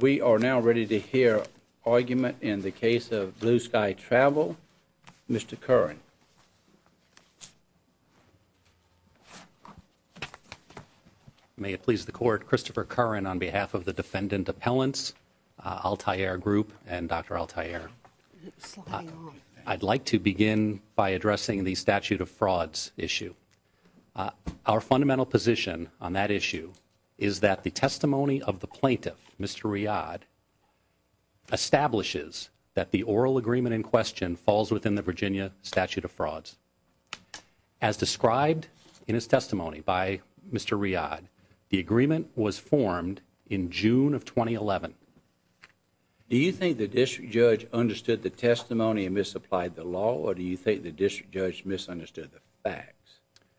We are now ready to hear argument in the case of Blue Sky Travel. Mr. Curran. May it please the court, Christopher Curran on behalf of the defendant appellants, Al Tayyar Group and Dr. Al Tayyar. I'd like to begin by addressing the statute of frauds issue. Our fundamental position on that issue is that the testimony of the plaintiff, Mr. Riad, establishes that the oral agreement in question falls within the Virginia statute of frauds. As described in his testimony by Mr. Riad, the agreement was formed in June of 2011. Do you think the district judge understood the testimony and misapplied the law or do you think district judge misunderstood the facts? Christopher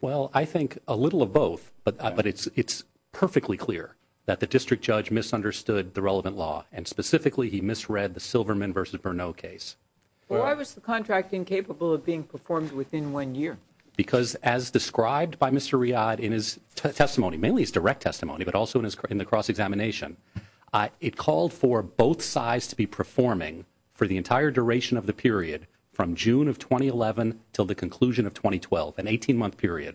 Curran Well, I think a little of both, but it's perfectly clear that the district judge misunderstood the relevant law and specifically he misread the Silverman v. Bernot case. Why was the contract incapable of being performed within one year? Because as described by Mr. Riad in his testimony, mainly his direct testimony, but also in the cross-examination, it called for both sides to be performing for the entire duration of the period from June of 2011 until the conclusion of 2012, an 18-month period.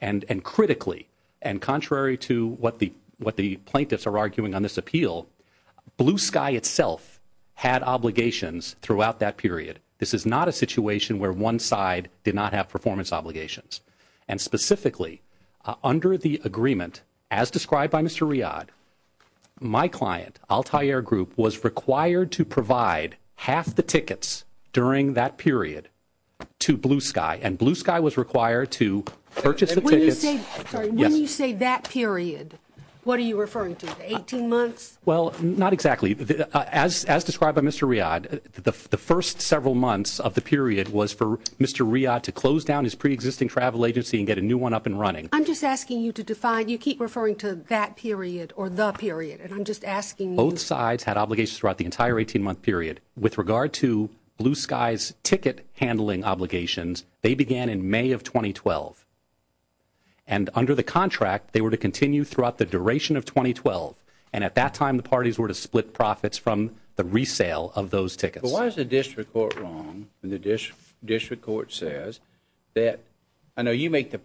And critically, and contrary to what the plaintiffs are arguing on this appeal, Blue Sky itself had obligations throughout that period. This is not a situation where one side did not have performance obligations. And specifically, under the agreement as described by Mr. Riad, my client, Altair Group, was required to provide half the tickets during that period to Blue Sky and Blue Sky was required to purchase the tickets. When you say that period, what are you referring to, 18 months? Christopher Curran Well, not exactly. As described by Mr. Riad, the first several months of the period was for Mr. Riad to close down his preexisting travel agency and get a new one up and running. I'm just asking you to define, you keep referring to that period or the period, and I'm just asking you Both sides had obligations throughout the entire 18-month period. With regard to Blue Sky's ticket handling obligations, they began in May of 2012. And under the contract, they were to continue throughout the duration of 2012. And at that time, the parties were to split profits from the resale of those tickets. But why is the district court wrong when the district court says that, I know you make the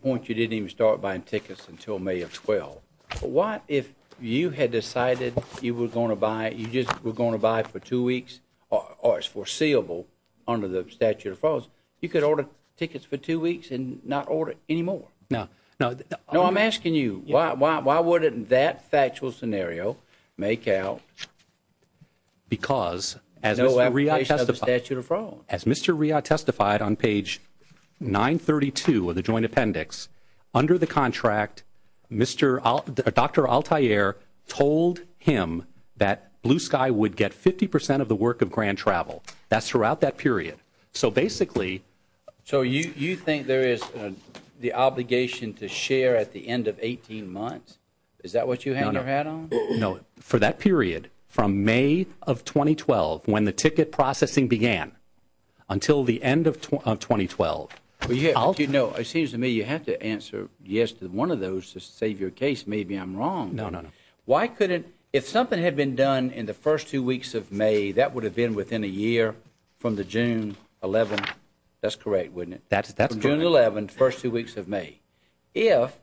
What if you had decided you were going to buy, you just were going to buy for two weeks or it's foreseeable under the statute of frauds, you could order tickets for two weeks and not order any more? No, I'm asking you, why wouldn't that factual scenario make out? Because as Mr. Riad testified on page 932 of the joint appendix, under the contract, Mr., Dr. Altair told him that Blue Sky would get 50% of the work of Grand Travel. That's throughout that period. So basically, So you think there is the obligation to share at the end of 18 months? Is that what you had your hat on? No, for that period, from May of 2012, when the ticket processing began, until the end of 2012. Well, you know, it seems to me you have to answer yes to one of those to save your case. Maybe I'm wrong. No, no, no. Why couldn't, if something had been done in the first two weeks of May, that would have been within a year from the June 11. That's correct, wouldn't it? That's that's June 11, first two weeks of May. If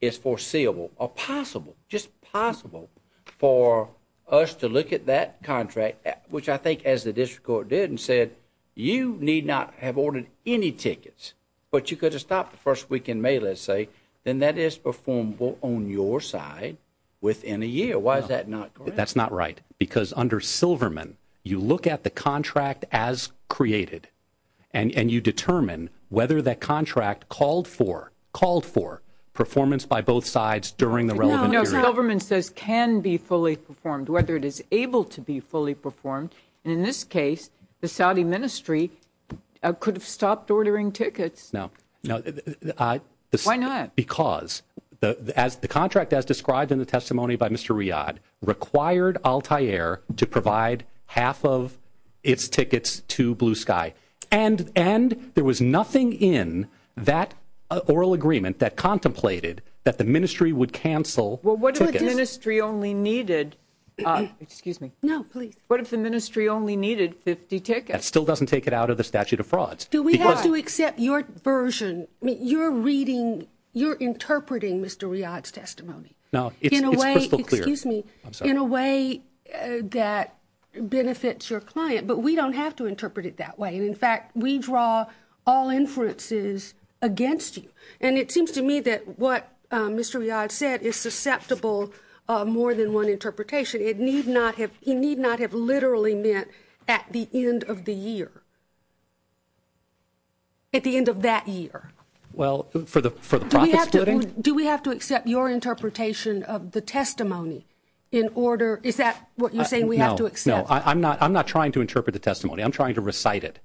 it's foreseeable or possible, just possible for us to look at that contract, which I think as the district court did and said, you need not have ordered any tickets, but you could have stopped the first week in May, let's say, then that is performable on your side within a year. Why is that not correct? That's not right, because under Silverman, you look at the contract as created and you determine whether that contract called for performance by both sides during the relevant period. No, Silverman says can be fully performed, whether it is able to be fully performed. And in this case, the Saudi ministry could have stopped ordering tickets. No, no. Why not? Because as the contract, as described in the testimony by Mr. Riyad, required Altair to provide half of its tickets to Blue Sky and and there was nothing in that oral agreement that contemplated that the ministry would cancel. Well, what if the ministry only needed excuse me. No, please. What if the ministry only needed 50 tickets? Still doesn't take it out of the statute of frauds. Do we have to accept your version? You're reading, you're interpreting Mr. Riyad's testimony. Now, in a way, excuse me, in a way that benefits your client. But we don't have to interpret it that way. And in fact, we draw all inferences against you. And it seems to me that what Mr. Riyad said is susceptible more than one interpretation. It need not have he need not have literally meant at the end of the year. At the end of that year. Well, for the for the. Do we have to accept your interpretation of the testimony in order? Is that what you're saying? We have to accept. I'm not I'm not trying to interpret the testimony. I'm trying to recite it.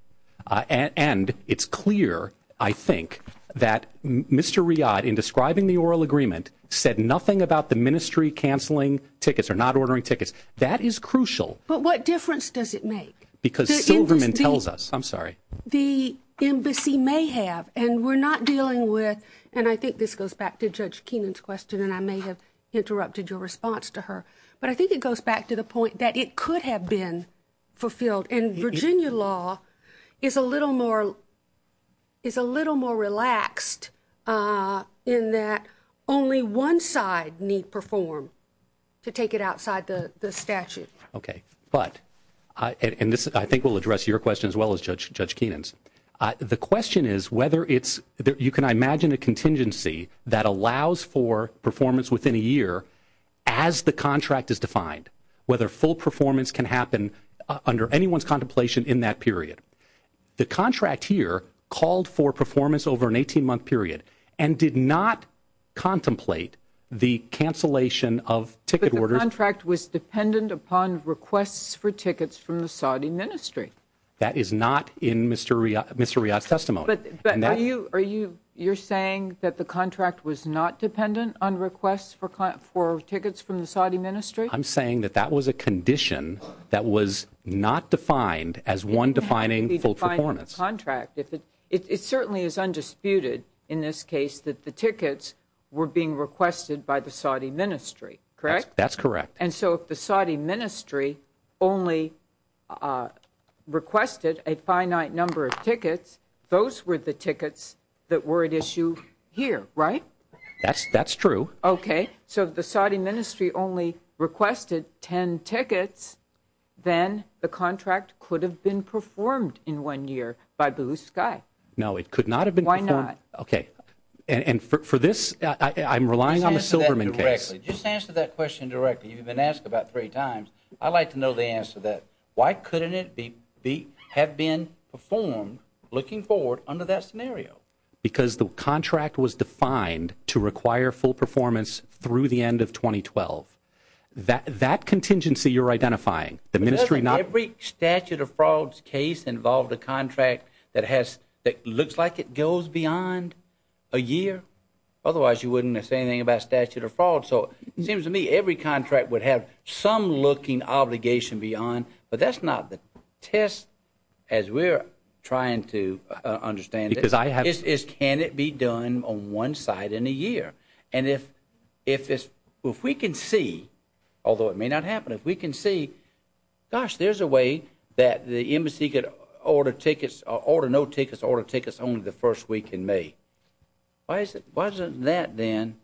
And it's clear, I think, that Mr. Riyad in describing the oral agreement said nothing about the ministry canceling tickets or not ordering tickets. That is crucial. But what difference does it make? Because Silverman tells us, I'm sorry, the embassy may have and we're not dealing with. And I think this goes back to Judge Keenan's question. And I may have interrupted your response to her. But I think it goes back to the point that it could have been fulfilled. And Virginia law is a little more is a little more relaxed in that only one side need perform to take it outside the statute. OK, but I think we'll address your question as well as Judge Keenan's. The question is whether it's you can imagine a contingency that allows for performance within a year as the contract is defined, whether full performance can happen under anyone's contemplation in that period. The contract here called for performance over an 18 month period and did not contemplate the cancellation of ticket orders. The contract was dependent upon requests for tickets from the Saudi ministry. That is not in Mr. Riyad's testimony. Are you you're saying that the contract was not dependent on requests for tickets from the Saudi ministry? I'm saying that that was a condition that was not defined as one defining full performance contract. If it certainly is undisputed in this case that the tickets were being requested by the Saudi ministry, correct? That's correct. And so if the Saudi ministry only requested a finite number of tickets, those were the tickets that were at issue here, right? That's true. OK, so the Saudi ministry only requested 10 tickets, then the contract could have been performed in one year by Blue Sky. No, it could not have been. Why not? OK, and for this, I'm relying on the Silberman case. Just answer that question directly. You've been asked about three times. I'd like to know the answer to that. Why couldn't it be have been performed looking forward under that scenario? Because the contract was defined to require full performance through the end of 2012. That contingency you're identifying, the ministry not. Every statute of frauds case involved a contract that has that looks like it goes beyond a year. Otherwise, you wouldn't say anything about statute of fraud. So it seems to me every contract would have some looking obligation beyond. But that's not the test, as we're trying to understand. Because I have this. Can it be done on one side in a year? And if we can see, although it may not happen, if we can see, gosh, there's a way that the embassy could order tickets, order no tickets, order tickets only the first week in May. Why is it wasn't that then?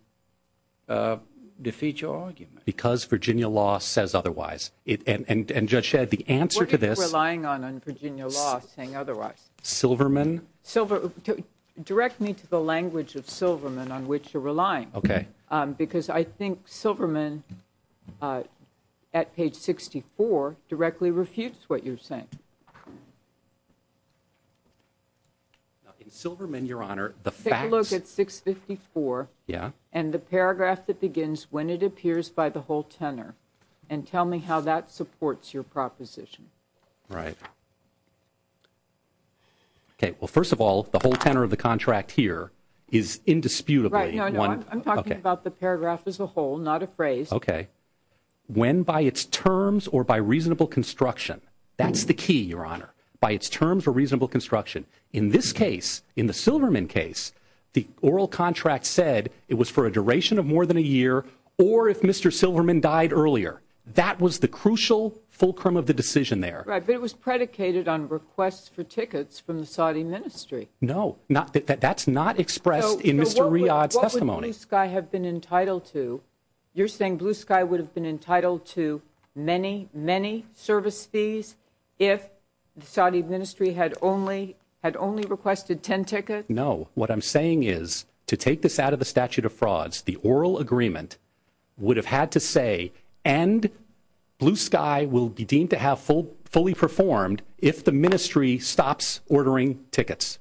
Defeat your argument. Because Virginia law says otherwise. It and just shed the answer to this relying on Virginia law saying otherwise. Silverman. Silver direct me to the language of Silverman on which you're relying. OK, because I think Silverman at page 64 directly refutes what you're saying. Silverman, your honor, the fact look at 654. Yeah. And the paragraph that begins when it appears by the whole tenor. And tell me how that supports your proposition. Right. OK, well, first of all, the whole tenor of the contract here is indisputably one. I'm talking about the paragraph as a whole, not a phrase. OK. When by its terms or by reasonable construction, that's the key, your honor. By its terms or reasonable construction in this case, in the Silverman case, the oral contract said it was for a duration of more than a year or if Mr. Silverman died earlier. That was the crucial fulcrum of the decision there. Right. It was predicated on requests for tickets from the Saudi ministry. No, not that that's not expressed in Mr. Riyadh testimony. I have been entitled to you're saying Blue Sky would have been entitled to many, many service fees if the Saudi ministry had only had only requested 10 tickets. No. What I'm saying is to take this out of the statute of frauds, the oral agreement would have had to say and Blue Sky will be deemed to have full, fully performed if the ministry stops ordering tickets.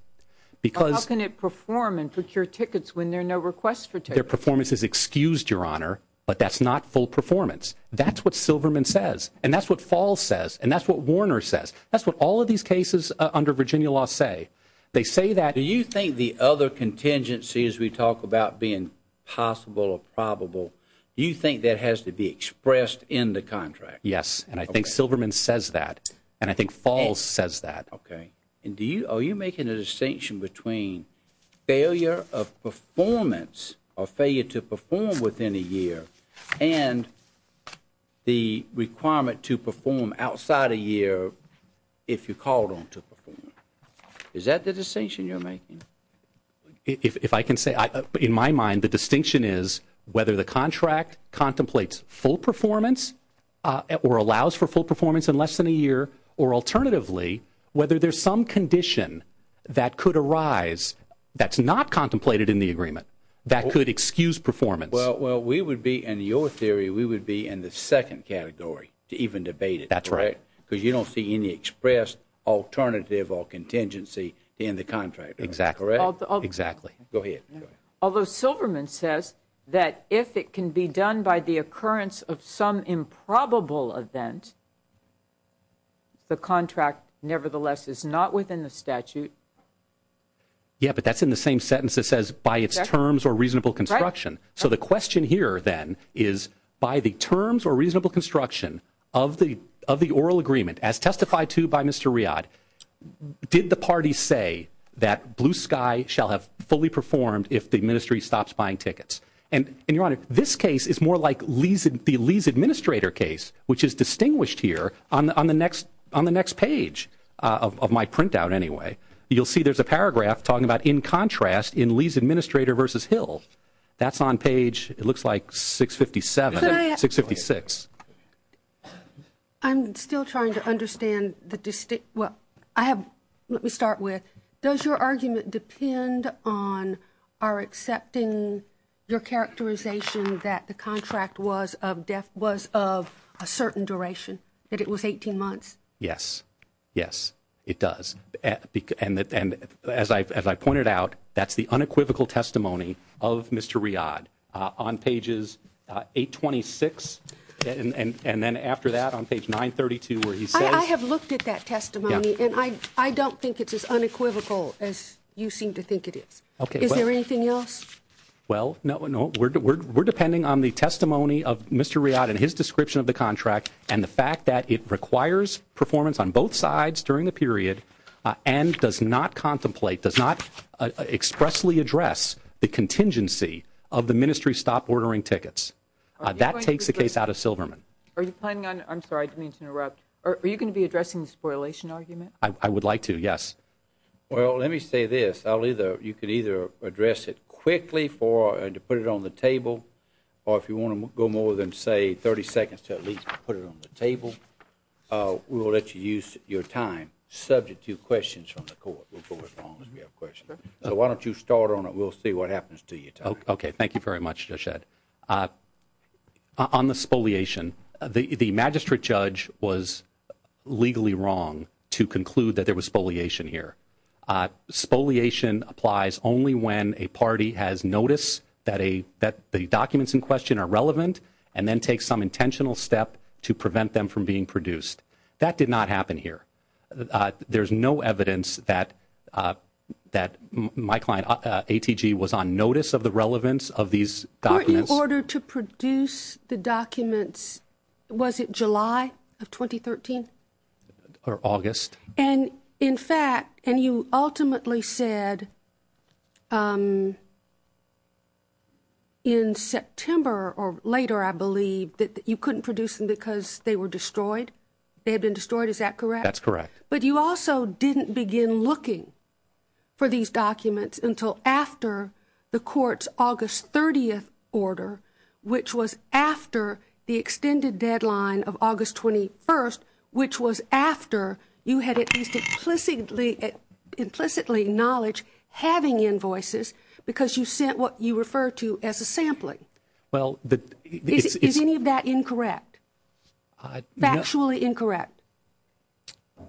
Because how can it perform and procure tickets when there are no requests for their performance is excused, your honor. But that's not full performance. That's what Silverman says. And that's what fall says. And that's what Warner says. That's what all of these cases under Virginia law say. They say that. Do you think the other contingency as we talk about being possible or probable, you think that has to be expressed in the contract? Yes. And I think Silverman says that. And I think falls says that. Okay. And do you, are you making a distinction between failure of performance or failure to perform within a year and the requirement to perform outside a year if you called on to perform? Is that the decision you're making? If I can say, in my mind, the distinction is whether the contract contemplates full performance or allows for full performance in less than a year or alternatively, whether there's some condition that could arise that's not contemplated in the agreement that could excuse performance. Well, we would be, in your theory, we would be in the second category to even debate it. That's right. Because you don't see any expressed alternative or contingency in the contract. Exactly. Exactly. Go ahead. Although Silverman says that if it can be done by the occurrence of some improbable event, the contract nevertheless is not within the statute. Yeah, but that's in the same sentence. It says by its terms or reasonable construction. So the question here then is by the terms or reasonable construction of the, of the oral agreement as testified to by Mr. Riad, did the party say that Blue Sky shall have fully performed if the ministry stops buying tickets? And, and your honor, this case is more like Lee's, the Lee's administrator case, which is distinguished here on the, on the next, on the next page of my printout anyway. You'll see there's a paragraph talking about in contrast in Lee's administrator versus Hill. That's on page, it looks like 657, 656. I'm still trying to understand the distinct, well, I have, let me start with, does your argument depend on our accepting your characterization that the contract was of, was of a certain duration, that it was 18 months? Yes. Yes, it does. And that, and as I, as I pointed out, that's the unequivocal testimony of Mr. Riad on pages 826 and, and, and then after that on page 932, where he says, I have looked at that testimony and I, I don't think it's as unequivocal as you seem to think it is. Okay. Is there anything else? Well, no, no, we're, we're, we're depending on the testimony of Mr. Riad and his description of the contract and the fact that it requires performance on both sides during the period and does not contemplate, does not expressly address the contingency of the ministry stop ordering tickets. That takes the case out of Silverman. Are you planning on, I'm sorry, I didn't mean to interrupt, are you going to be addressing the spoilation argument? I would like to, yes. Well, let me say this, I'll either, you could either address it quickly for, and to put it on the table, or if you want to go more than say 30 seconds to at least put it on the table, we will let you use your time subject to questions from the court. We'll go as long as we have questions. So why don't you start on it? We'll see what happens to your time. Okay. Thank you very much, Judge Ed. On the spoliation, the magistrate judge was legally wrong to conclude that there was spoliation here. Spoliation applies only when a party has noticed that a, that the documents in question are relevant, and then takes some intentional step to prevent them from being produced. That did not happen here. There's no evidence that, that my client ATG was on notice of the relevance of these documents. Were you ordered to produce the documents, was it July of 2013? Or August. And in fact, and you ultimately said, um, in September or later, I believe, that you couldn't produce them because they were destroyed. They had been destroyed. Is that correct? That's correct. But you also didn't begin looking for these documents until after the court's August 30th order, which was after the extended deadline of August 21st, which was after you had at least implicitly, implicitly acknowledged having invoices because you sent what you refer to as a sampling. Well, is any of that incorrect? Factually incorrect?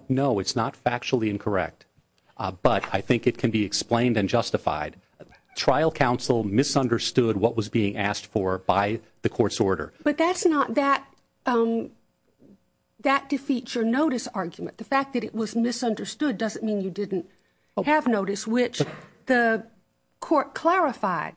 No, it's not factually incorrect. But I think it can be explained and justified. Trial counsel misunderstood what was being asked for by the court's order. But that's not that, um, that defeats your notice argument. The fact that it was misunderstood doesn't mean you didn't have notice, which the court clarified.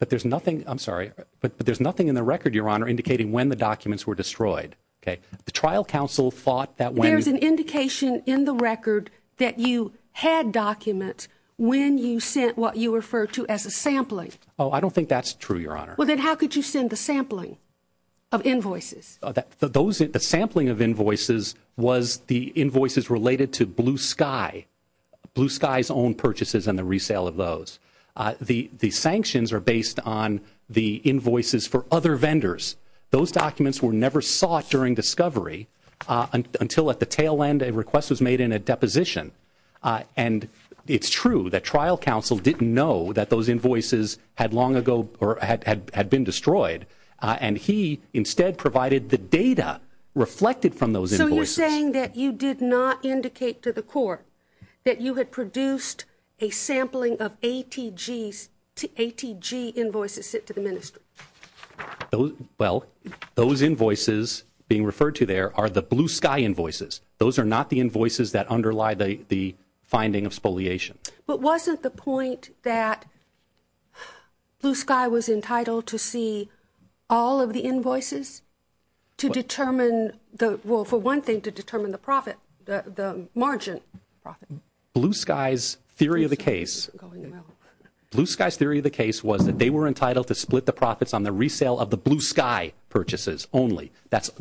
But there's nothing, I'm sorry, but there's nothing in the record, Your Honor, indicating when the documents were destroyed. Okay. The trial counsel thought that when. There's an indication in the record that you had documents when you sent what you refer to as a sampling. Oh, I don't think that's true, Your Honor. Well, then how could you send the sampling of invoices? Those, the sampling of invoices was the invoices related to Blue Sky, Blue Sky's own purchases and the resale of those. The sanctions are based on the invoices for other vendors. Those documents were never sought during discovery until at the tail end, a request was made in a deposition. And it's true that trial counsel didn't know that those invoices had long ago or had been destroyed. And he instead provided the data reflected from those invoices. So you're saying that you did not indicate to the court that you had produced a sampling of ATG's, ATG invoices sent to the ministry? Well, those invoices being referred to there are the Blue Sky invoices. Those are not the invoices that underlie the finding of spoliation. But wasn't the point that Blue Sky was entitled to see all of the invoices to determine the, well, for one thing, to determine the profit, the margin profit? Blue Sky's theory of the case, Blue Sky's theory of the case was that they were entitled to split the profits on the resale of the Blue Sky purchases only.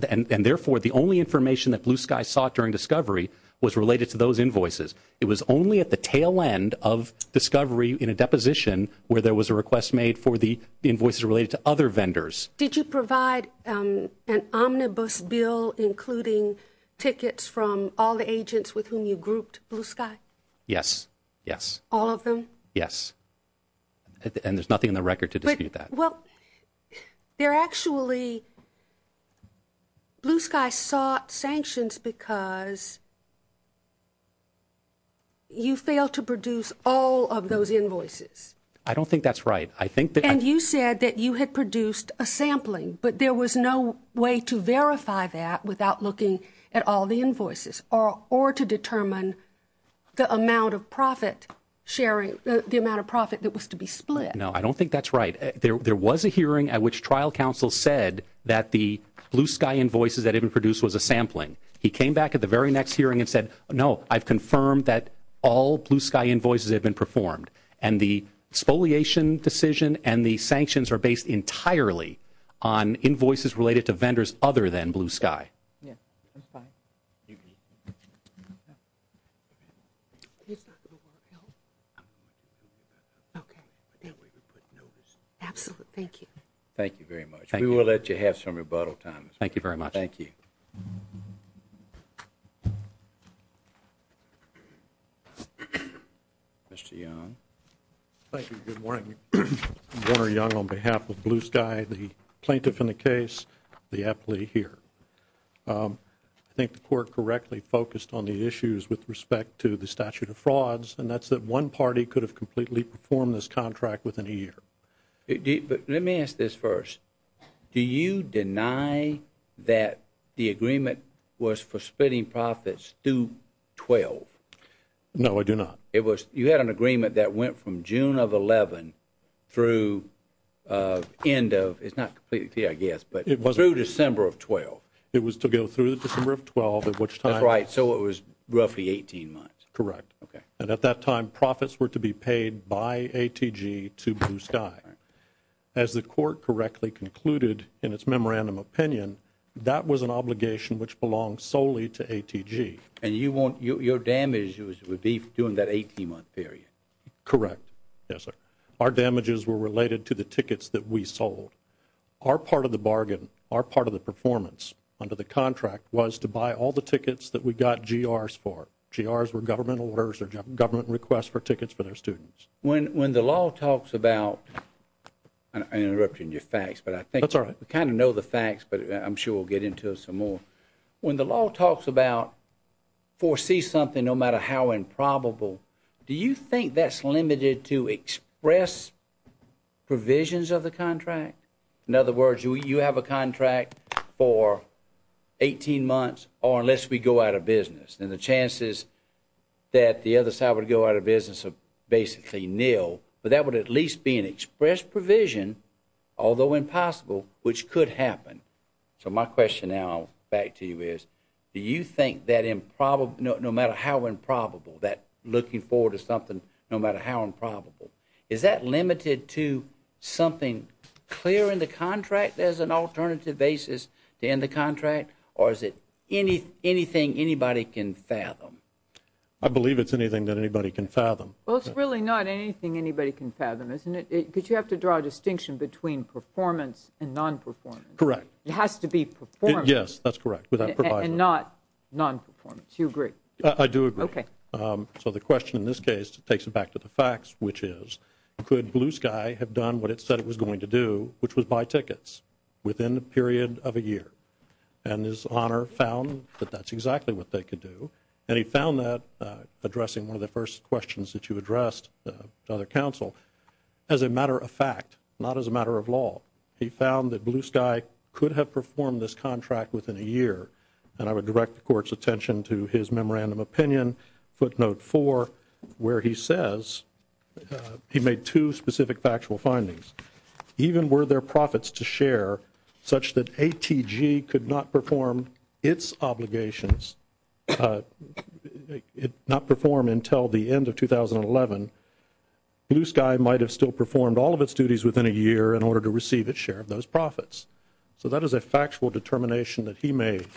And therefore, the only information that Blue Sky sought during discovery was related to those invoices. It was only at the tail end of discovery in a deposition where there was a request made for the invoices related to other vendors. Did you provide an omnibus bill including tickets from all the agents with whom you grouped Blue Sky? Yes. Yes. All of them? Yes. And there's nothing in the record to dispute that. Well, there actually, Blue Sky sought sanctions because you failed to produce all of those invoices. I don't think that's right. I think that... And you said that you had produced a sampling, but there was no way to verify that without looking at all the invoices or to determine the amount of profit sharing, the amount of profit that was to be split. No, I don't think that's right. There was a hearing at which trial counsel said that the Blue Sky invoices that had been produced was a sampling. He came back at the very next hearing and said, no, I've confirmed that all Blue Sky invoices had been performed. And the spoliation decision and the sanctions are based entirely on invoices related to vendors other than Blue Sky. Yes. Absolutely. Thank you. Thank you very much. We will let you have some rebuttal time. Thank you very much. Thank you. Mr. Young. Thank you. Good morning. Warner Young on behalf of Blue Sky, the plaintiff in the case, the appellee here. I think the court correctly focused on the issues with respect to the statute of frauds, and that's that one party could have completely performed this contract within a year. But let me ask this first. Do you deny that the agreement was for splitting profits through 12? No, I do not. It was you had an agreement that went from June of 11 through end of it's not completely, I guess, but it was through December of 12. It was to go through December of 12, at which time. Right. So it was roughly 18 months. Correct. Okay. At that time, profits were to be paid by ATG to Blue Sky. Right. As the court correctly concluded in its memorandum opinion, that was an obligation which belonged solely to ATG. And you want your damages would be during that 18-month period? Correct. Yes, sir. Our damages were related to the tickets that we sold. Our part of the bargain, our part of the performance under the contract was to buy all the tickets that we got GRs for. GRs were government orders or government requests for tickets for their students. When the law talks about, I interrupted your facts, but I think. That's all right. We kind of know the facts, but I'm sure we'll get into some more. When the law talks about foresee something, no matter how improbable, do you think that's limited to express provisions of the contract? In other words, you have a contract for 18 months or unless we go out of business, then the chances that the other side would go out of business are basically nil. But that would at least be an express provision, although impossible, which could happen. So my question now back to you is, do you think that no matter how improbable, that looking forward to something, no matter how improbable, is that limited to something clear in the contract as an alternative basis to end the contract? Or is it anything anybody can fathom? I believe it's anything that anybody can fathom. Well, it's really not anything anybody can fathom, isn't it? Because you have to draw a distinction between performance and non-performance. Correct. It has to be performance. Yes, that's correct. And not non-performance. You agree? I do agree. So the question in this case takes it back to the facts, which is, could Blue Sky have done what it said it was going to do, which was buy tickets within the period of a year? And His Honor found that that's exactly what they could do. And he found that, addressing one of the first questions that you addressed to other counsel, as a matter of fact, not as a matter of law. He found that Blue Sky could have performed this contract within a year. And I would direct the Court's attention to his memorandum opinion, footnote four, where he says, he made two specific factual findings. Even were there profits to share, such that ATG could not perform its obligations, not perform until the end of 2011, Blue Sky might have still performed all of its duties within a year in order to receive its share of those profits. So that is a factual determination that he made.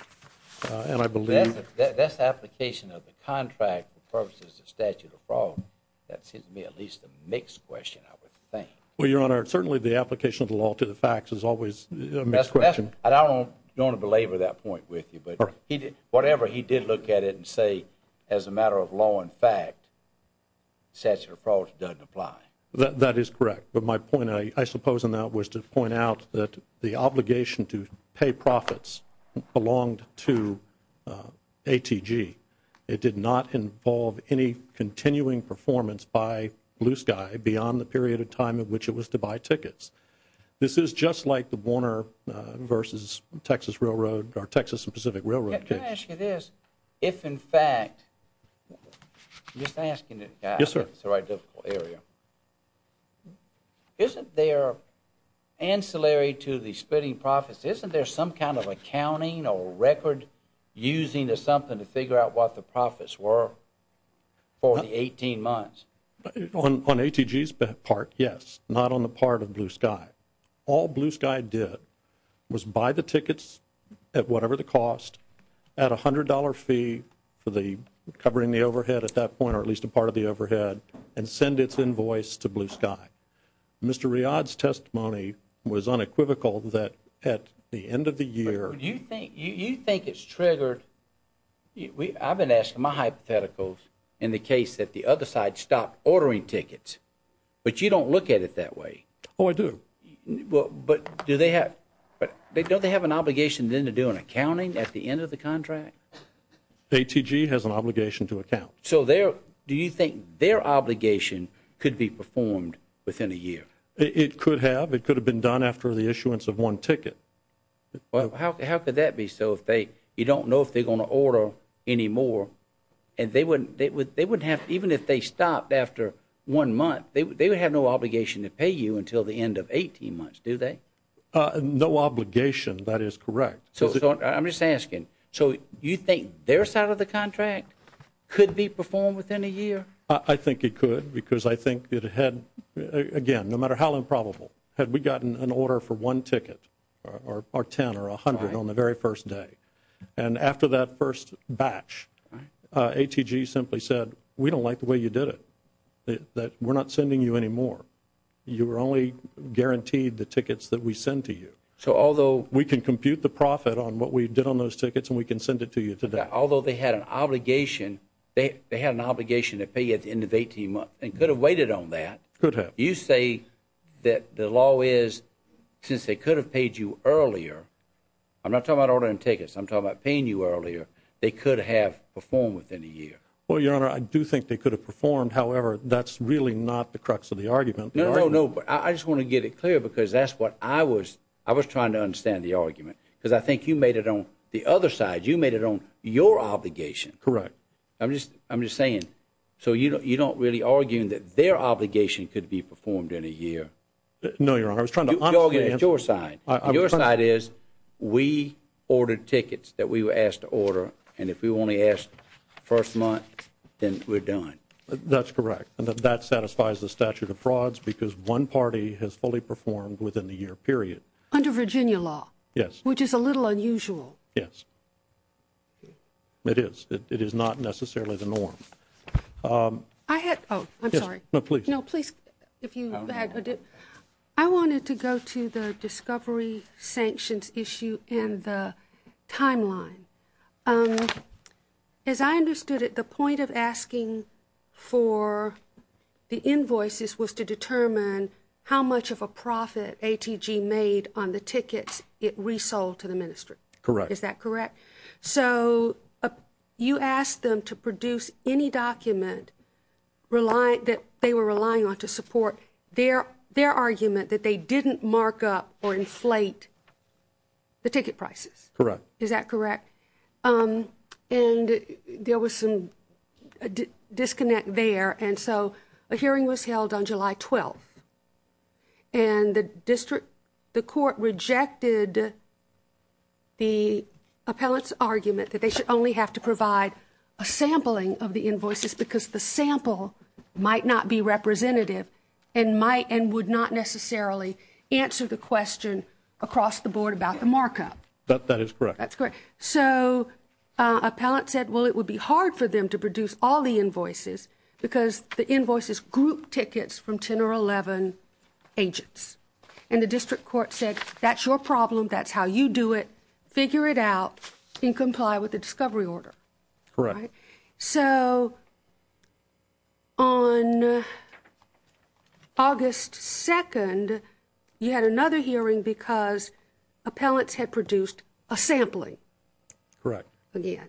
And I believe— That's the application of the contract for purposes of statute of fraud. That seems to me at least a mixed question, I would think. Well, Your Honor, certainly the application of the law to the facts is always a mixed question. And I don't want to belabor that point with you, but whatever he did look at it and say, as a matter of law and fact, statute of fraud doesn't apply. That is correct. But my point, I suppose, in that was to point out that the obligation to pay profits belonged to ATG. It did not involve any continuing performance by Blue Sky beyond the period of time it was to buy tickets. This is just like the Warner versus Texas Railroad or Texas and Pacific Railroad case. Can I ask you this? If in fact—I'm just asking the guy— Yes, sir. —if it's the right area. Isn't there ancillary to the splitting profits, isn't there some kind of accounting or record using of something to figure out what the profits were for the 18 months? On ATG's part, yes. Not on the part of Blue Sky. All Blue Sky did was buy the tickets at whatever the cost at a $100 fee for the covering the overhead at that point, or at least a part of the overhead, and send its invoice to Blue Sky. Mr. Riad's testimony was unequivocal that at the end of the year— But you think it's triggered—I've been asking my hypotheticals in the case that the other side stopped ordering tickets, but you don't look at it that way. Oh, I do. But do they have—don't they have an obligation then to do an accounting at the end of the contract? ATG has an obligation to account. So do you think their obligation could be performed within a year? It could have. It could have been done after the issuance of one ticket. Well, how could that be? You don't know if they're going to order anymore. Even if they stopped after one month, they would have no obligation to pay you until the end of 18 months, do they? No obligation, that is correct. I'm just asking. So you think their side of the contract could be performed within a year? I think it could, because I think it had—again, no matter how improbable, had we gotten an order for one ticket or 10 or 100 on the very first day, and after that first batch, ATG simply said, we don't like the way you did it, that we're not sending you anymore. You were only guaranteed the tickets that we send to you. So although— We can compute the profit on what we did on those tickets, and we can send it to you today. Although they had an obligation, they had an obligation to pay you at the end of 18 months, and could have waited on that. Could have. You say that the law is, since they could have paid you earlier—I'm not talking about ordering tickets, I'm talking about paying you earlier—they could have performed within a year. Well, Your Honor, I do think they could have performed. However, that's really not the crux of the argument. No, no, no. But I just want to get it clear, because that's what I was—I was trying to understand the argument. Because I think you made it on the other side. You made it on your obligation. Correct. I'm just—I'm just saying. So you don't really argue that their obligation could be performed in a year? No, Your Honor. I was trying to— The argument is your side. Your side is, we ordered tickets that we were asked to order, and if we only asked first month, then we're done. That's correct. And that satisfies the statute of frauds, because one party has fully performed within the year period. Under Virginia law. Yes. Which is a little unusual. Yes. It is. It is not necessarily the norm. I had—oh, I'm sorry. No, please. No, please. If you had—I wanted to go to the discovery sanctions issue and the timeline. As I understood it, the point of asking for the invoices was to determine how much of a profit ATG made on the tickets it resold to the ministry. Correct. Is that correct? So you asked them to produce any document that they were relying on to support their argument that they didn't mark up or inflate the ticket prices. Correct. Is that correct? And there was some disconnect there, and so a hearing was held on July 12th, and the that they should only have to provide a sampling of the invoices, because the sample might not be representative and might and would not necessarily answer the question across the board about the markup. That is correct. That's correct. So an appellant said, well, it would be hard for them to produce all the invoices, because the invoices group tickets from 10 or 11 agents. And the district court said, that's your problem. That's how you do it. Figure it out and comply with the discovery order. Correct. So on August 2nd, you had another hearing because appellants had produced a sampling. Correct. Again.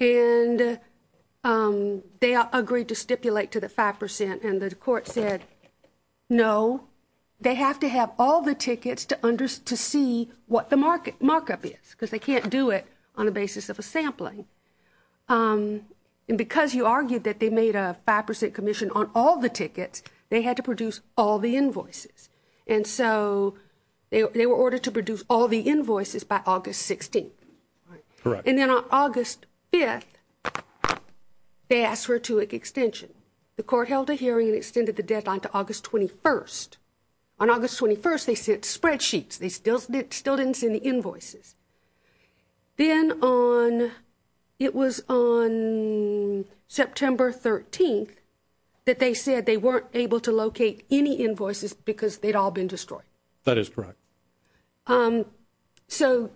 And they agreed to stipulate to the 5%, and the court said, no, they have to have all the tickets to see what the markup is, because they can't do it on the basis of a sampling. And because you argued that they made a 5% commission on all the tickets, they had to produce all the invoices. And so they were ordered to produce all the invoices by August 16th. Correct. And then on August 5th, they asked for a two-week extension. The court held a hearing and extended the deadline to August 21st. On August 21st, they sent spreadsheets. They still didn't send the invoices. Then on, it was on September 13th that they said they weren't able to locate any invoices because they'd all been destroyed. That is correct. So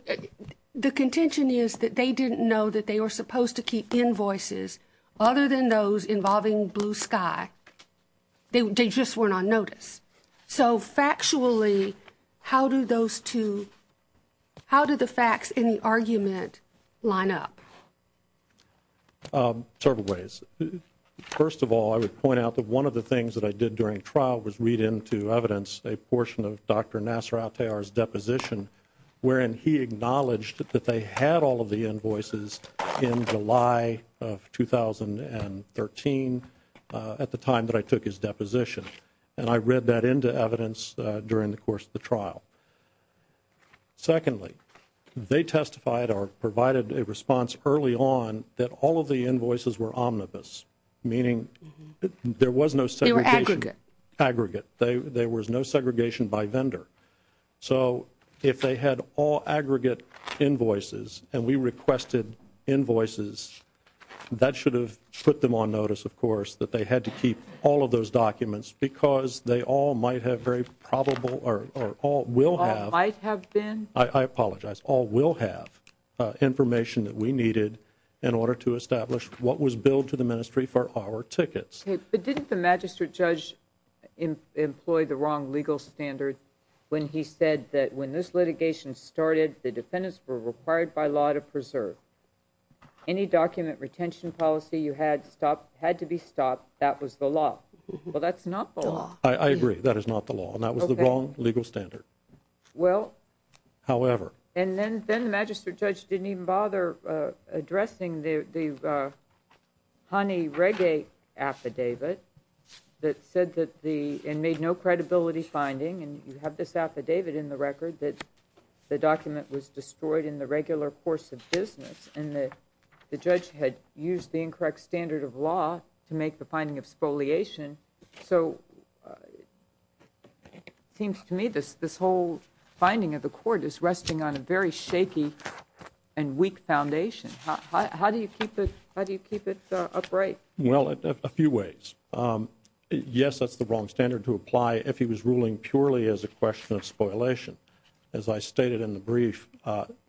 the contention is that they didn't know that they were supposed to keep invoices other than those involving Blue Sky. They just weren't on notice. So factually, how do those two, how do the facts in the argument line up? Several ways. First of all, I would point out that one of the things that I did during trial was read into evidence a portion of Dr. Nasser Al-Tayyar's deposition, wherein he acknowledged that they had all of the invoices in July of 2013, at the time that I took his deposition. And I read that into evidence during the course of the trial. Secondly, they testified or provided a response early on that all of the invoices were omnibus, meaning there was no segregation. They were aggregate. Aggregate. There was no segregation by vendor. So if they had all aggregate invoices and we requested invoices, that should have put them on notice, of course, that they had to keep all of those documents because they all might have very probable or all will have. All might have been? I apologize. All will have information that we needed in order to establish what was billed to the Ministry for our tickets. But didn't the magistrate judge employ the wrong legal standard when he said that when this litigation started, the defendants were required by law to preserve? Any document retention policy you had stopped had to be stopped. That was the law. Well, that's not the law. I agree. That is not the law. And that was the wrong legal standard. Well. However. And then the magistrate judge didn't even bother addressing the honey reggae affidavit that said that the and made no credibility finding. And you have this affidavit in the record that the document was destroyed in the regular course of business and that the judge had used the incorrect standard of law to make the finding of spoliation. So it seems to me this whole finding of the court is resting on a very shaky and weak foundation. How do you keep it? How do you keep it upright? Well, a few ways. Yes, that's the wrong standard to apply if he was ruling purely as a question of spoliation. As I stated in the brief,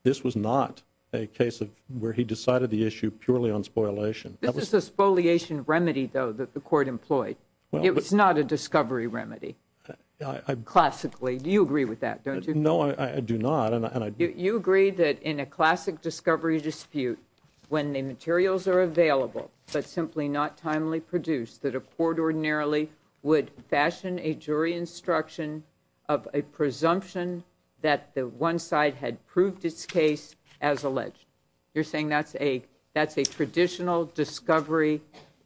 this was not a case of where he decided the issue purely on spoliation. This is a spoliation remedy, though, that the court employed. It was not a discovery remedy. Classically. Do you agree with that? Don't you? No, I do not. You agree that in a classic discovery dispute, when the materials are available, but simply not timely produced, that a court ordinarily would fashion a jury instruction of a presumption that the one side had proved its case as alleged. You're saying that's a that's a traditional discovery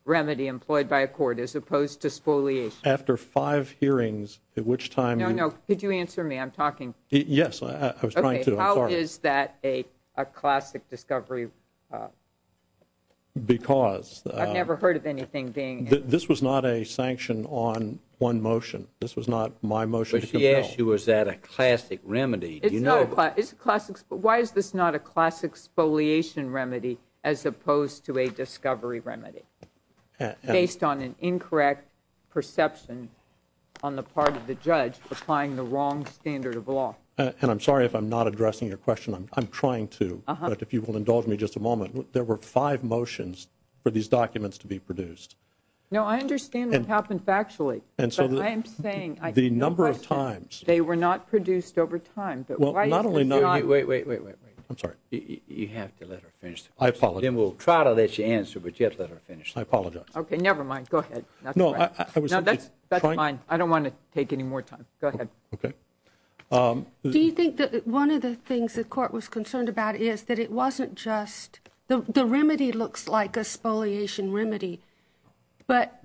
remedy employed by a court as opposed to spoliation. After five hearings, at which time. No, no. Could you answer me? I'm talking. Yes, I was trying to. How is that a classic discovery? Because. I've never heard of anything being. This was not a sanction on one motion. This was not my motion. But she asked you, was that a classic remedy? Why is this not a classic spoliation remedy as opposed to a discovery remedy? Based on an incorrect perception on the part of the judge applying the wrong standard of law. And I'm sorry if I'm not addressing your question. There were five motions for these documents to be produced. No, I understand what happened factually. And so I am saying the number of times they were not produced over time. But not only not. Wait, wait, wait, wait, wait. I'm sorry. You have to let her finish. I apologize. We'll try to let you answer, but you have to let her finish. I apologize. OK, never mind. Go ahead. No, I was. No, that's fine. I don't want to take any more time. Go ahead. OK. Do you think that one of the things the court was concerned about is that it wasn't just. The remedy looks like a spoliation remedy. But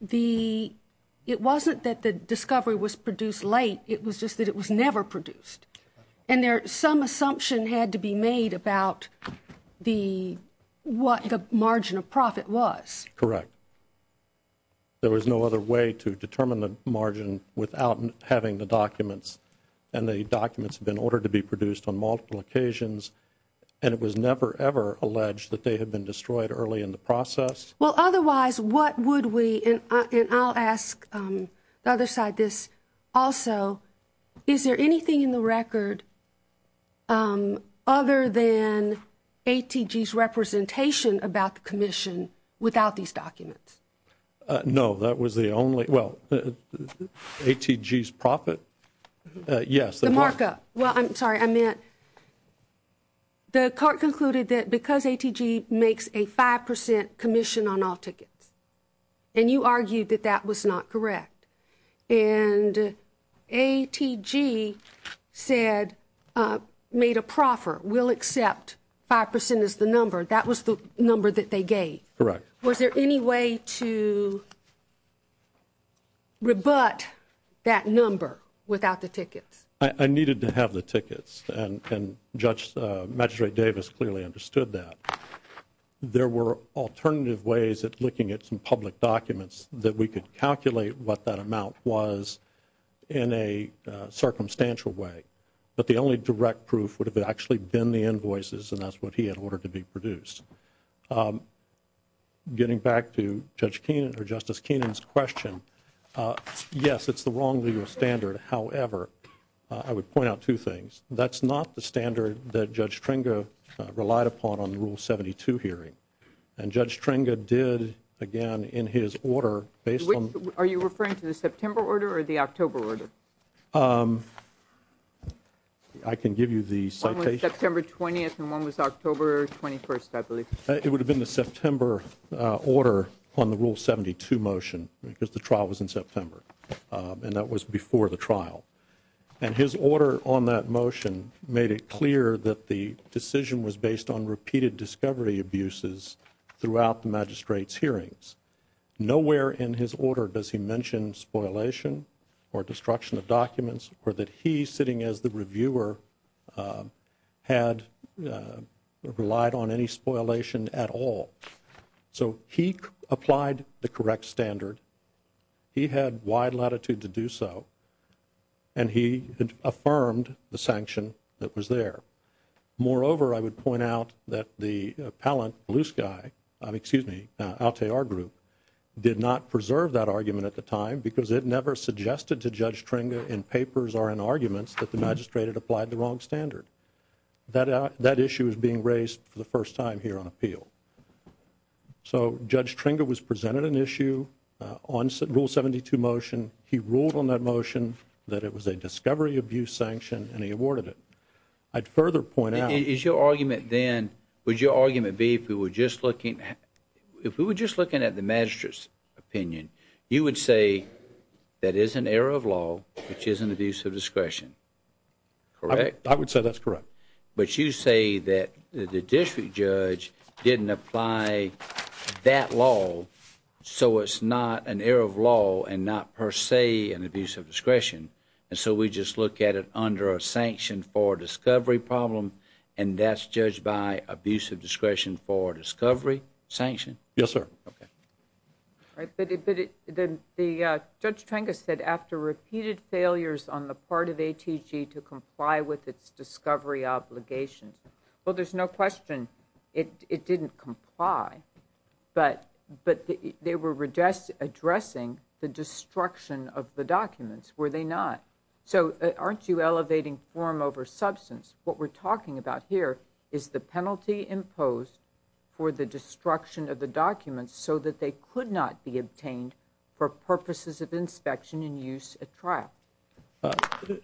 the it wasn't that the discovery was produced late. It was just that it was never produced. And there some assumption had to be made about the what the margin of profit was correct. There was no other way to determine the margin without having the documents. And the documents have been ordered to be produced on multiple occasions. And it was never, ever alleged that they had been destroyed early in the process. Well, otherwise, what would we and I'll ask the other side this. Also, is there anything in the record? Other than ATG's representation about the commission without these documents? No, that was the only well, ATG's profit. Yes, the markup. Well, I'm sorry, I meant. The court concluded that because ATG makes a 5% commission on all tickets. And you argued that that was not correct. And ATG said made a proffer will accept 5% is the number. That was the number that they gave. Correct. Was there any way to. Rebut that number without the tickets. I needed to have the tickets and Judge Magistrate Davis clearly understood that. There were alternative ways of looking at some public documents that we could calculate what that amount was in a circumstantial way. But the only direct proof would have actually been the invoices. And that's what he had ordered to be produced. Getting back to Judge Keenan or Justice Keenan's question. Yes, it's the wrong legal standard. However, I would point out two things. That's not the standard that Judge Tringa relied upon on the rule 72 hearing. And Judge Tringa did again in his order based on. Are you referring to the September order or the October order? I can give you the September 20th and one was October 21st, I believe. It would have been the September order on the rule 72 motion because the trial was in September. And that was before the trial. And his order on that motion made it clear that the decision was based on repeated discovery abuses throughout the magistrate's hearings. Nowhere in his order does he mention spoilation or destruction of documents or that he's sitting as the reviewer had relied on any spoilation at all. So he applied the correct standard. He had wide latitude to do so. And he affirmed the sanction that was there. Moreover, I would point out that the appellant, Blue Sky, excuse me, Altair Group, did not preserve that argument at the time because it never suggested to Judge Tringa in papers or in arguments that the magistrate had applied the wrong standard. That issue is being raised for the first time here on appeal. So Judge Tringa was presented an issue on rule 72 motion. He ruled on that motion that it was a discovery abuse sanction and he awarded it. I'd further point out. Is your argument then, would your argument be if we were just looking at the magistrate's opinion, you would say that is an error of law, which is an abuse of discretion. Correct? I would say that's correct. But you say that the district judge didn't apply that law. So it's not an error of law and not per se an abuse of discretion. And so we just look at it under a sanction for discovery problem. And that's judged by abuse of discretion for discovery sanction. Yes, sir. Okay. Right. The Judge Tringa said after repeated failures on the part of ATG to comply with its discovery obligations. Well, there's no question it didn't comply, but they were addressing the destruction of the documents, were they not? So aren't you elevating form over substance? What we're talking about here is the penalty imposed for the destruction of the documents so that they could not be obtained for purposes of inspection and use at trial.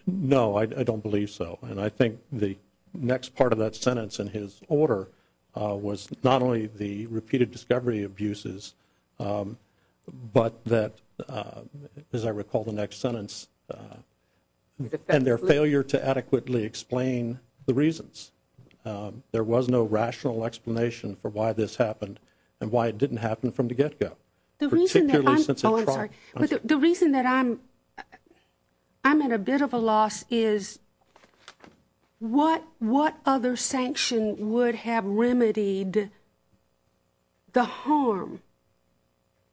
No, I don't believe so. And I think the next part of that sentence in his order was not only the repeated discovery abuses, but that, as I recall, the next sentence and their failure to adequately explain the reasons. There was no rational explanation for why this happened and why it didn't happen from the get-go. The reason that I'm at a bit of a loss is what other sanction would have remedied the harm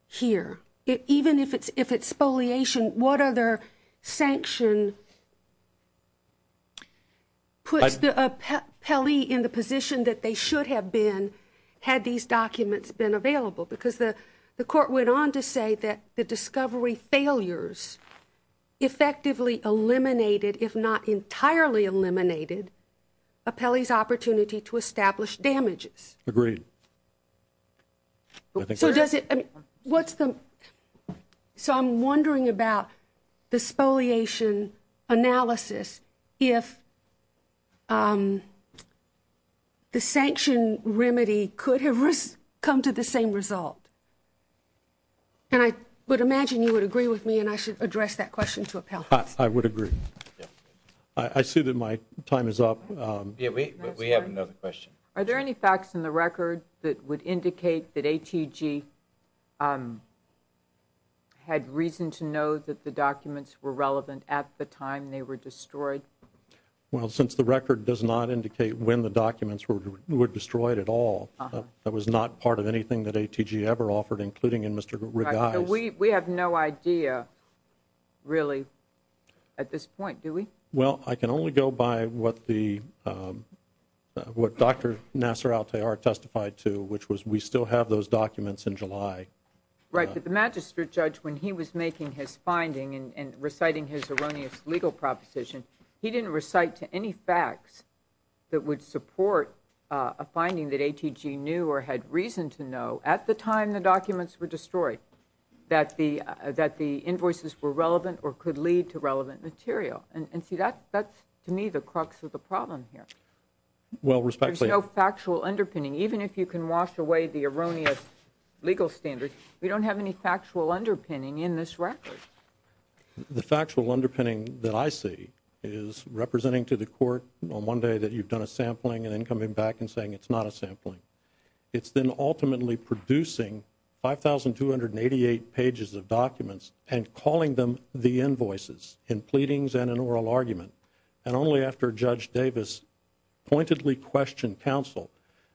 here? Even if it's spoliation, what other sanction puts a pelee in the position that they should have been had these documents been available? Because the court went on to say that the discovery failures effectively eliminated, if not entirely eliminated, a pelee's opportunity to establish damages. Agreed. So does it, what's the, so I'm wondering about the spoliation analysis if the sanction remedy could have come to the same result. And I would imagine you would agree with me and I should address that question to appellate. I would agree. I see that my time is up. We have another question. Are there any facts in the record that would indicate that ATG had reason to know that the documents were relevant at the time they were destroyed? Well, since the record does not indicate when the documents were destroyed at all, that was not part of anything that ATG ever offered, including in Mr. Really, at this point, do we? Well, I can only go by what the, what Dr. Nasser Al-Tayyar testified to, which was we still have those documents in July. Right, but the magistrate judge, when he was making his finding and reciting his erroneous legal proposition, he didn't recite to any facts that would support a finding that ATG knew or had reason to know at the time the documents were destroyed. That the invoices were relevant or could lead to relevant material. And see, that's to me the crux of the problem here. Well, respectfully. There's no factual underpinning. Even if you can wash away the erroneous legal standards, we don't have any factual underpinning in this record. The factual underpinning that I see is representing to the court on one day that you've done a sampling and then coming back and saying it's not a sampling. It's then ultimately producing 5,288 pages of documents and calling them the invoices in pleadings and an oral argument. And only after Judge Davis pointedly questioned counsel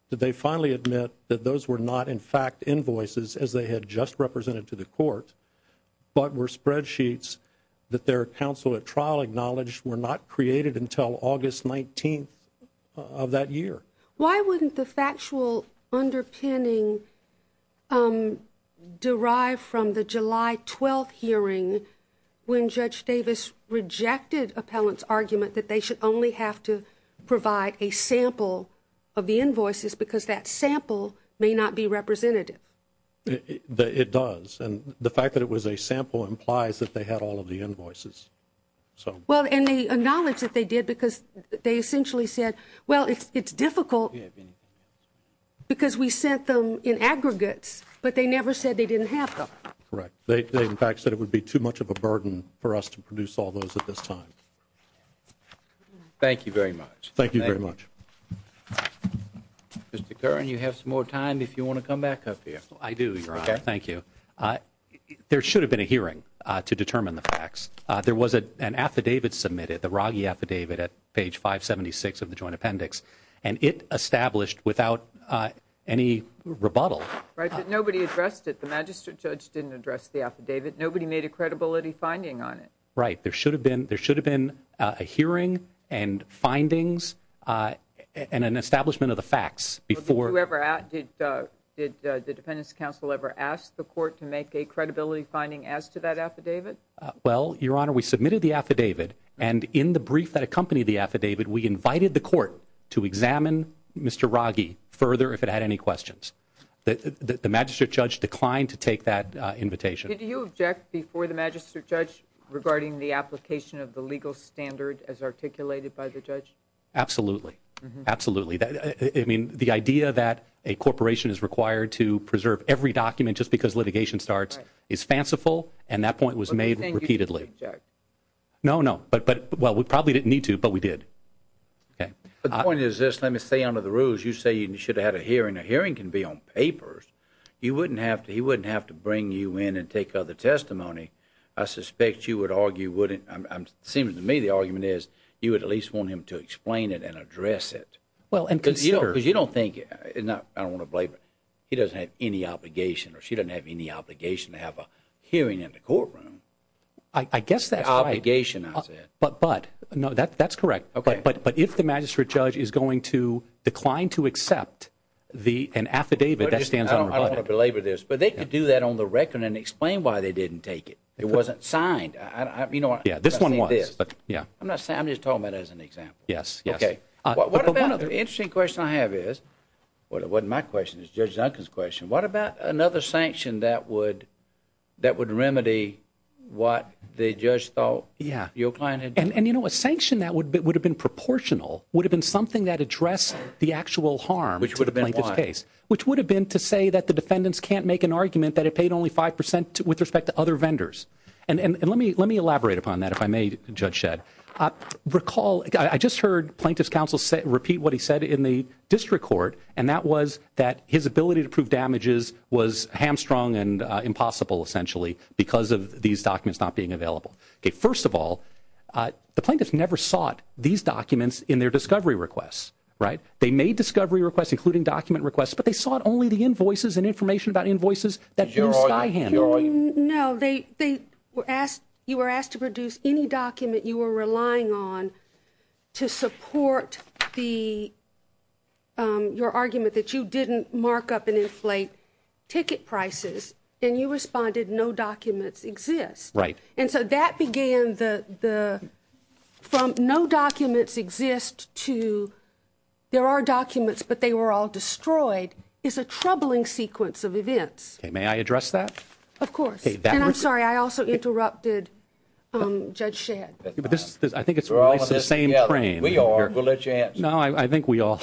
did they finally admit that those were not, in fact, invoices as they had just represented to the court, but were spreadsheets that their counsel at trial acknowledged were not created until August 19th of that year. Why wouldn't the factual underpinning derive from the July 12th hearing when Judge Davis rejected appellant's argument that they should only have to provide a sample of the invoices because that sample may not be representative? It does. And the fact that it was a sample implies that they had all of the invoices. Well, and they acknowledged that they did because they essentially said, well, it's difficult because we sent them in aggregates, but they never said they didn't have them. Correct. They, in fact, said it would be too much of a burden for us to produce all those at this time. Thank you very much. Thank you very much. Mr. Curran, you have some more time if you want to come back up here. I do, Your Honor. Thank you. There should have been a hearing to determine the facts. There was an affidavit submitted, the Raggi affidavit at page 576 of the joint appendix, and it established without any rebuttal. Right, but nobody addressed it. The magistrate judge didn't address the affidavit. Nobody made a credibility finding on it. Right. There should have been a hearing and findings and an establishment of the facts before. Did the Defendant's counsel ever ask the court to make a credibility finding as to that affidavit? Well, Your Honor, we submitted the affidavit, and in the brief that accompanied the affidavit, we invited the court to examine Mr. Raggi further if it had any questions. The magistrate judge declined to take that invitation. Did you object before the magistrate judge regarding the application of the legal standard as articulated by the judge? Absolutely. Absolutely. I mean, the idea that a corporation is required to preserve every document just because litigation starts is fanciful, and that point was made repeatedly. No, no. But, well, we probably didn't need to, but we did. Okay. The point is this. Let me say under the rules. You say you should have had a hearing. A hearing can be on papers. He wouldn't have to bring you in and take other testimony. I suspect you would argue, wouldn't, it seems to me the argument is you would at least want him to explain it and address it. Well, and consider. Because you don't think, and I don't want to blame him. He doesn't have any obligation, or she doesn't have any obligation to have a hearing in the courtroom. I guess that's right. Obligation, I said. But, no, that's correct. But if the magistrate judge is going to decline to accept an affidavit that stands unrebutted. I don't want to belabor this, but they could do that on the record and explain why they didn't take it. It wasn't signed. This one was. I'm not saying, I'm just talking about it as an example. Yes, yes. The interesting question I have is, well, it wasn't my question, it was Judge Duncan's question. What about another sanction that would remedy what the judge thought your client had done? And, you know, a sanction that would have been proportional would have been something that addressed the actual harm to the plaintiff's case. Which would have been what? Which would have been to say that the defendants can't make an argument that it paid only 5% with respect to other vendors. And let me elaborate upon that, if I may, Judge Shedd. Recall, I just heard plaintiff's counsel repeat what he said in the district court, and that was that his ability to prove damages was hamstrung and impossible, essentially, because of these documents not being available. Okay, first of all, the plaintiff never sought these documents in their discovery requests, right? They made discovery requests, including document requests, but they sought only the invoices and information about invoices that knew Skyhand. No, you were asked to produce any document you were relying on to support your argument that you didn't mark up and inflate ticket prices, and you responded, no documents exist. Right. And so that began the, from no documents exist to there are documents, but they were all destroyed, is a troubling sequence of events. May I address that? Of course. And I'm sorry, I also interrupted Judge Shedd. I think it's the same frame. We are, we'll let you answer. No, I think we all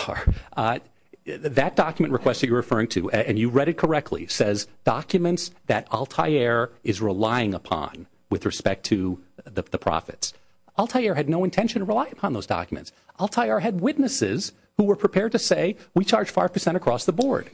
are. That document request that you're referring to, and you read it correctly, says documents that Altair is relying upon with respect to the profits. Altair had no intention to rely upon those documents. Altair had witnesses who were prepared to say, we charge 5% across the board.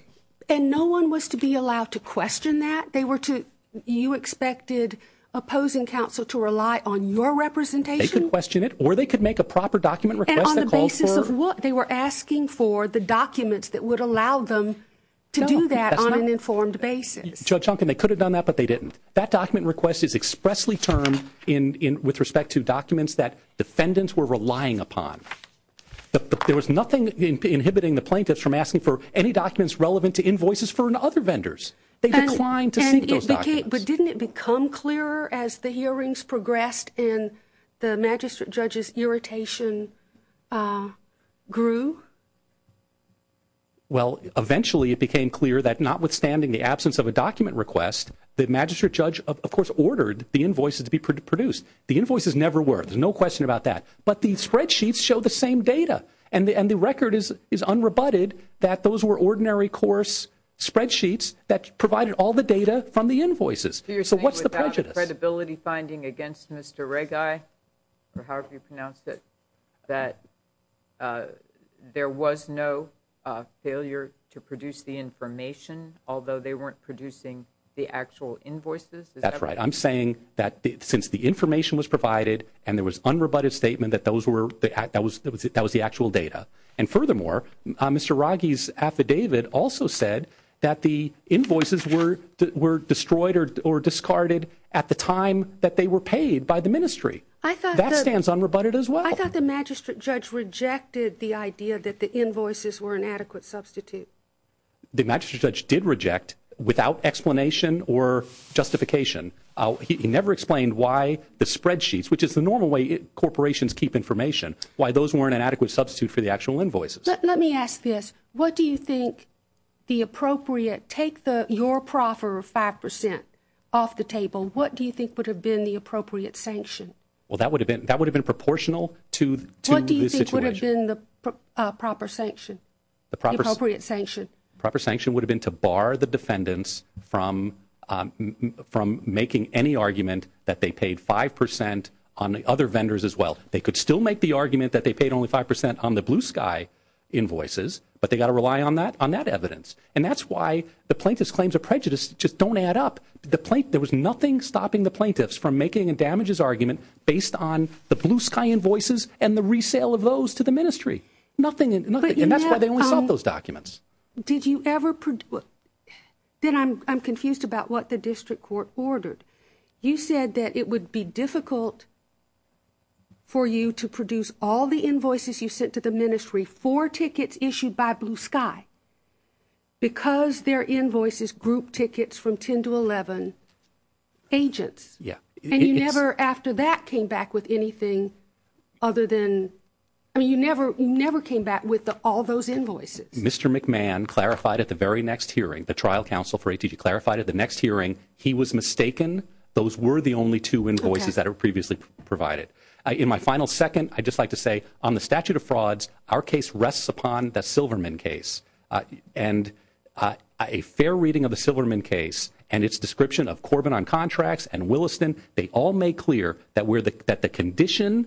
And no one was to be allowed to question that? They were to, you expected opposing counsel to rely on your representation? They could question it, or they could make a proper document request that called for. And on the basis of what? They were asking for the documents that would allow them to do that on an informed basis. Judge Duncan, they could have done that, but they didn't. That document request is expressly termed in, with respect to documents that defendants were relying upon. There was nothing inhibiting the plaintiffs from asking for any documents relevant to invoices for other vendors. They declined to seek those documents. But didn't it become clearer as the hearings progressed and the magistrate judge's irritation grew? Well, eventually it became clear that notwithstanding the absence of a document request, the magistrate judge, of course, ordered the invoices to be produced. The invoices never were. There's no question about that. But the spreadsheets show the same data. And the record is unrebutted that those were ordinary course spreadsheets that provided all the data from the invoices. So what's the prejudice? You're saying without a credibility finding against Mr. Regi, or however you pronounce it, that there was no failure to produce the information, although they weren't producing the actual invoices? That's right. I'm saying that since the information was provided and there was unrebutted statement that that was the actual data. And furthermore, Mr. Regi's affidavit also said that the invoices were destroyed or discarded at the time that they were paid by the ministry. That stands unrebutted as well. I thought the magistrate judge rejected the idea that the invoices were an adequate substitute. The magistrate judge did reject without explanation or justification. He never explained why the spreadsheets, which is the normal way corporations keep information, why those weren't an adequate substitute for the actual invoices. Let me ask this. What do you think the appropriate, take your proper 5% off the table, what do you think would have been the appropriate sanction? Well, that would have been proportional to the situation. What do you think would have been the proper sanction? The proper sanction. Proper sanction would have been to bar the defendants from making any argument that they paid 5% on the other vendors as well. They could still make the argument that they paid only 5% on the Blue Sky invoices, but they got to rely on that evidence. And that's why the plaintiff's claims of prejudice just don't add up. There was nothing stopping the plaintiffs from making a damages argument based on the Blue Sky invoices and the resale of those to the ministry. Nothing, and that's why they only sold those documents. Did you ever, then I'm confused about what the district court ordered. You said that it would be difficult for you to produce all the invoices you sent to the ministry for tickets issued by Blue Sky because their invoices group tickets from 10 to 11 agents. Yeah. And you never after that came back with anything other than, I mean, you never came back with all those invoices. Mr. McMahon clarified at the very next hearing, the trial counsel for ATG clarified at the next hearing, he was mistaken. Those were the only two invoices that were previously provided. In my final second, I'd just like to say on the statute of frauds, our case rests upon the Silverman case and a fair reading of the Silverman case and its description of Corbin on contracts and Williston. They all make clear that the condition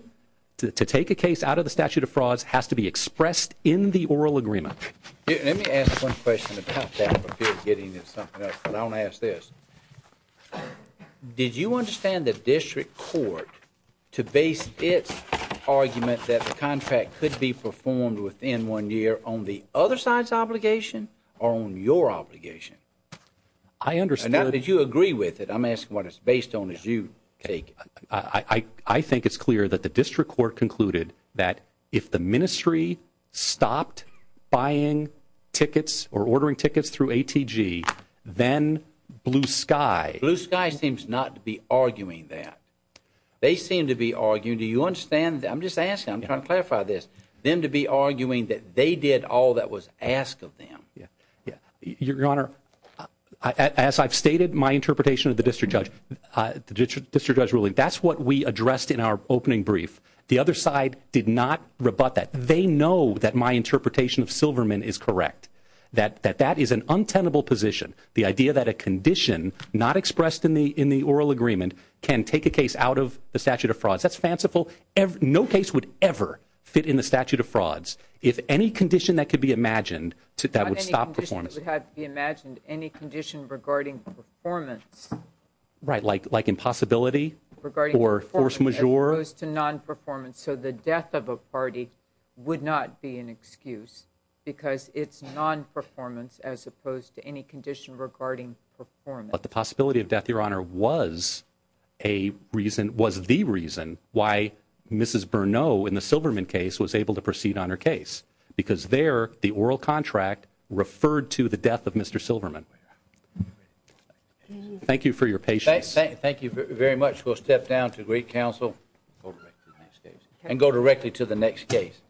to take a case out of the statute of frauds has to be expressed in the oral agreement. Let me ask one question about that, but I want to ask this. Did you understand the district court to base its argument that the contract could be performed within one year on the other side's obligation or on your obligation? I understand. And did you agree with it? I'm asking what it's based on as you take it. I think it's clear that the district court concluded that if the ministry stopped buying tickets or ordering tickets through ATG, then Blue Sky. Blue Sky seems not to be arguing that. They seem to be arguing, do you understand? I'm just asking. I'm trying to clarify this. Them to be arguing that they did all that was asked of them. Your Honor, as I've stated, my interpretation of the district judge ruling, that's what we addressed in our opening brief. The other side did not rebut that. They know that my interpretation of Silverman is correct, that that is an untenable position. The idea that a condition not expressed in the oral agreement can take a case out of the statute of frauds, that's fanciful. No case would ever fit in the statute of frauds. If any condition that could be imagined that would stop performance. Not any condition that could be imagined. Any condition regarding performance. Right, like impossibility? Regarding performance as opposed to non-performance. So the death of a party would not be an excuse because it's non-performance as opposed to any condition regarding performance. But the possibility of death, Your Honor, was the reason why Mrs. Bernot in the Silverman case was able to proceed on her case. Because there, the oral contract referred to the death of Mr. Silverman. Thank you for your patience. Thank you very much. We'll step down to great counsel and go directly to the next case.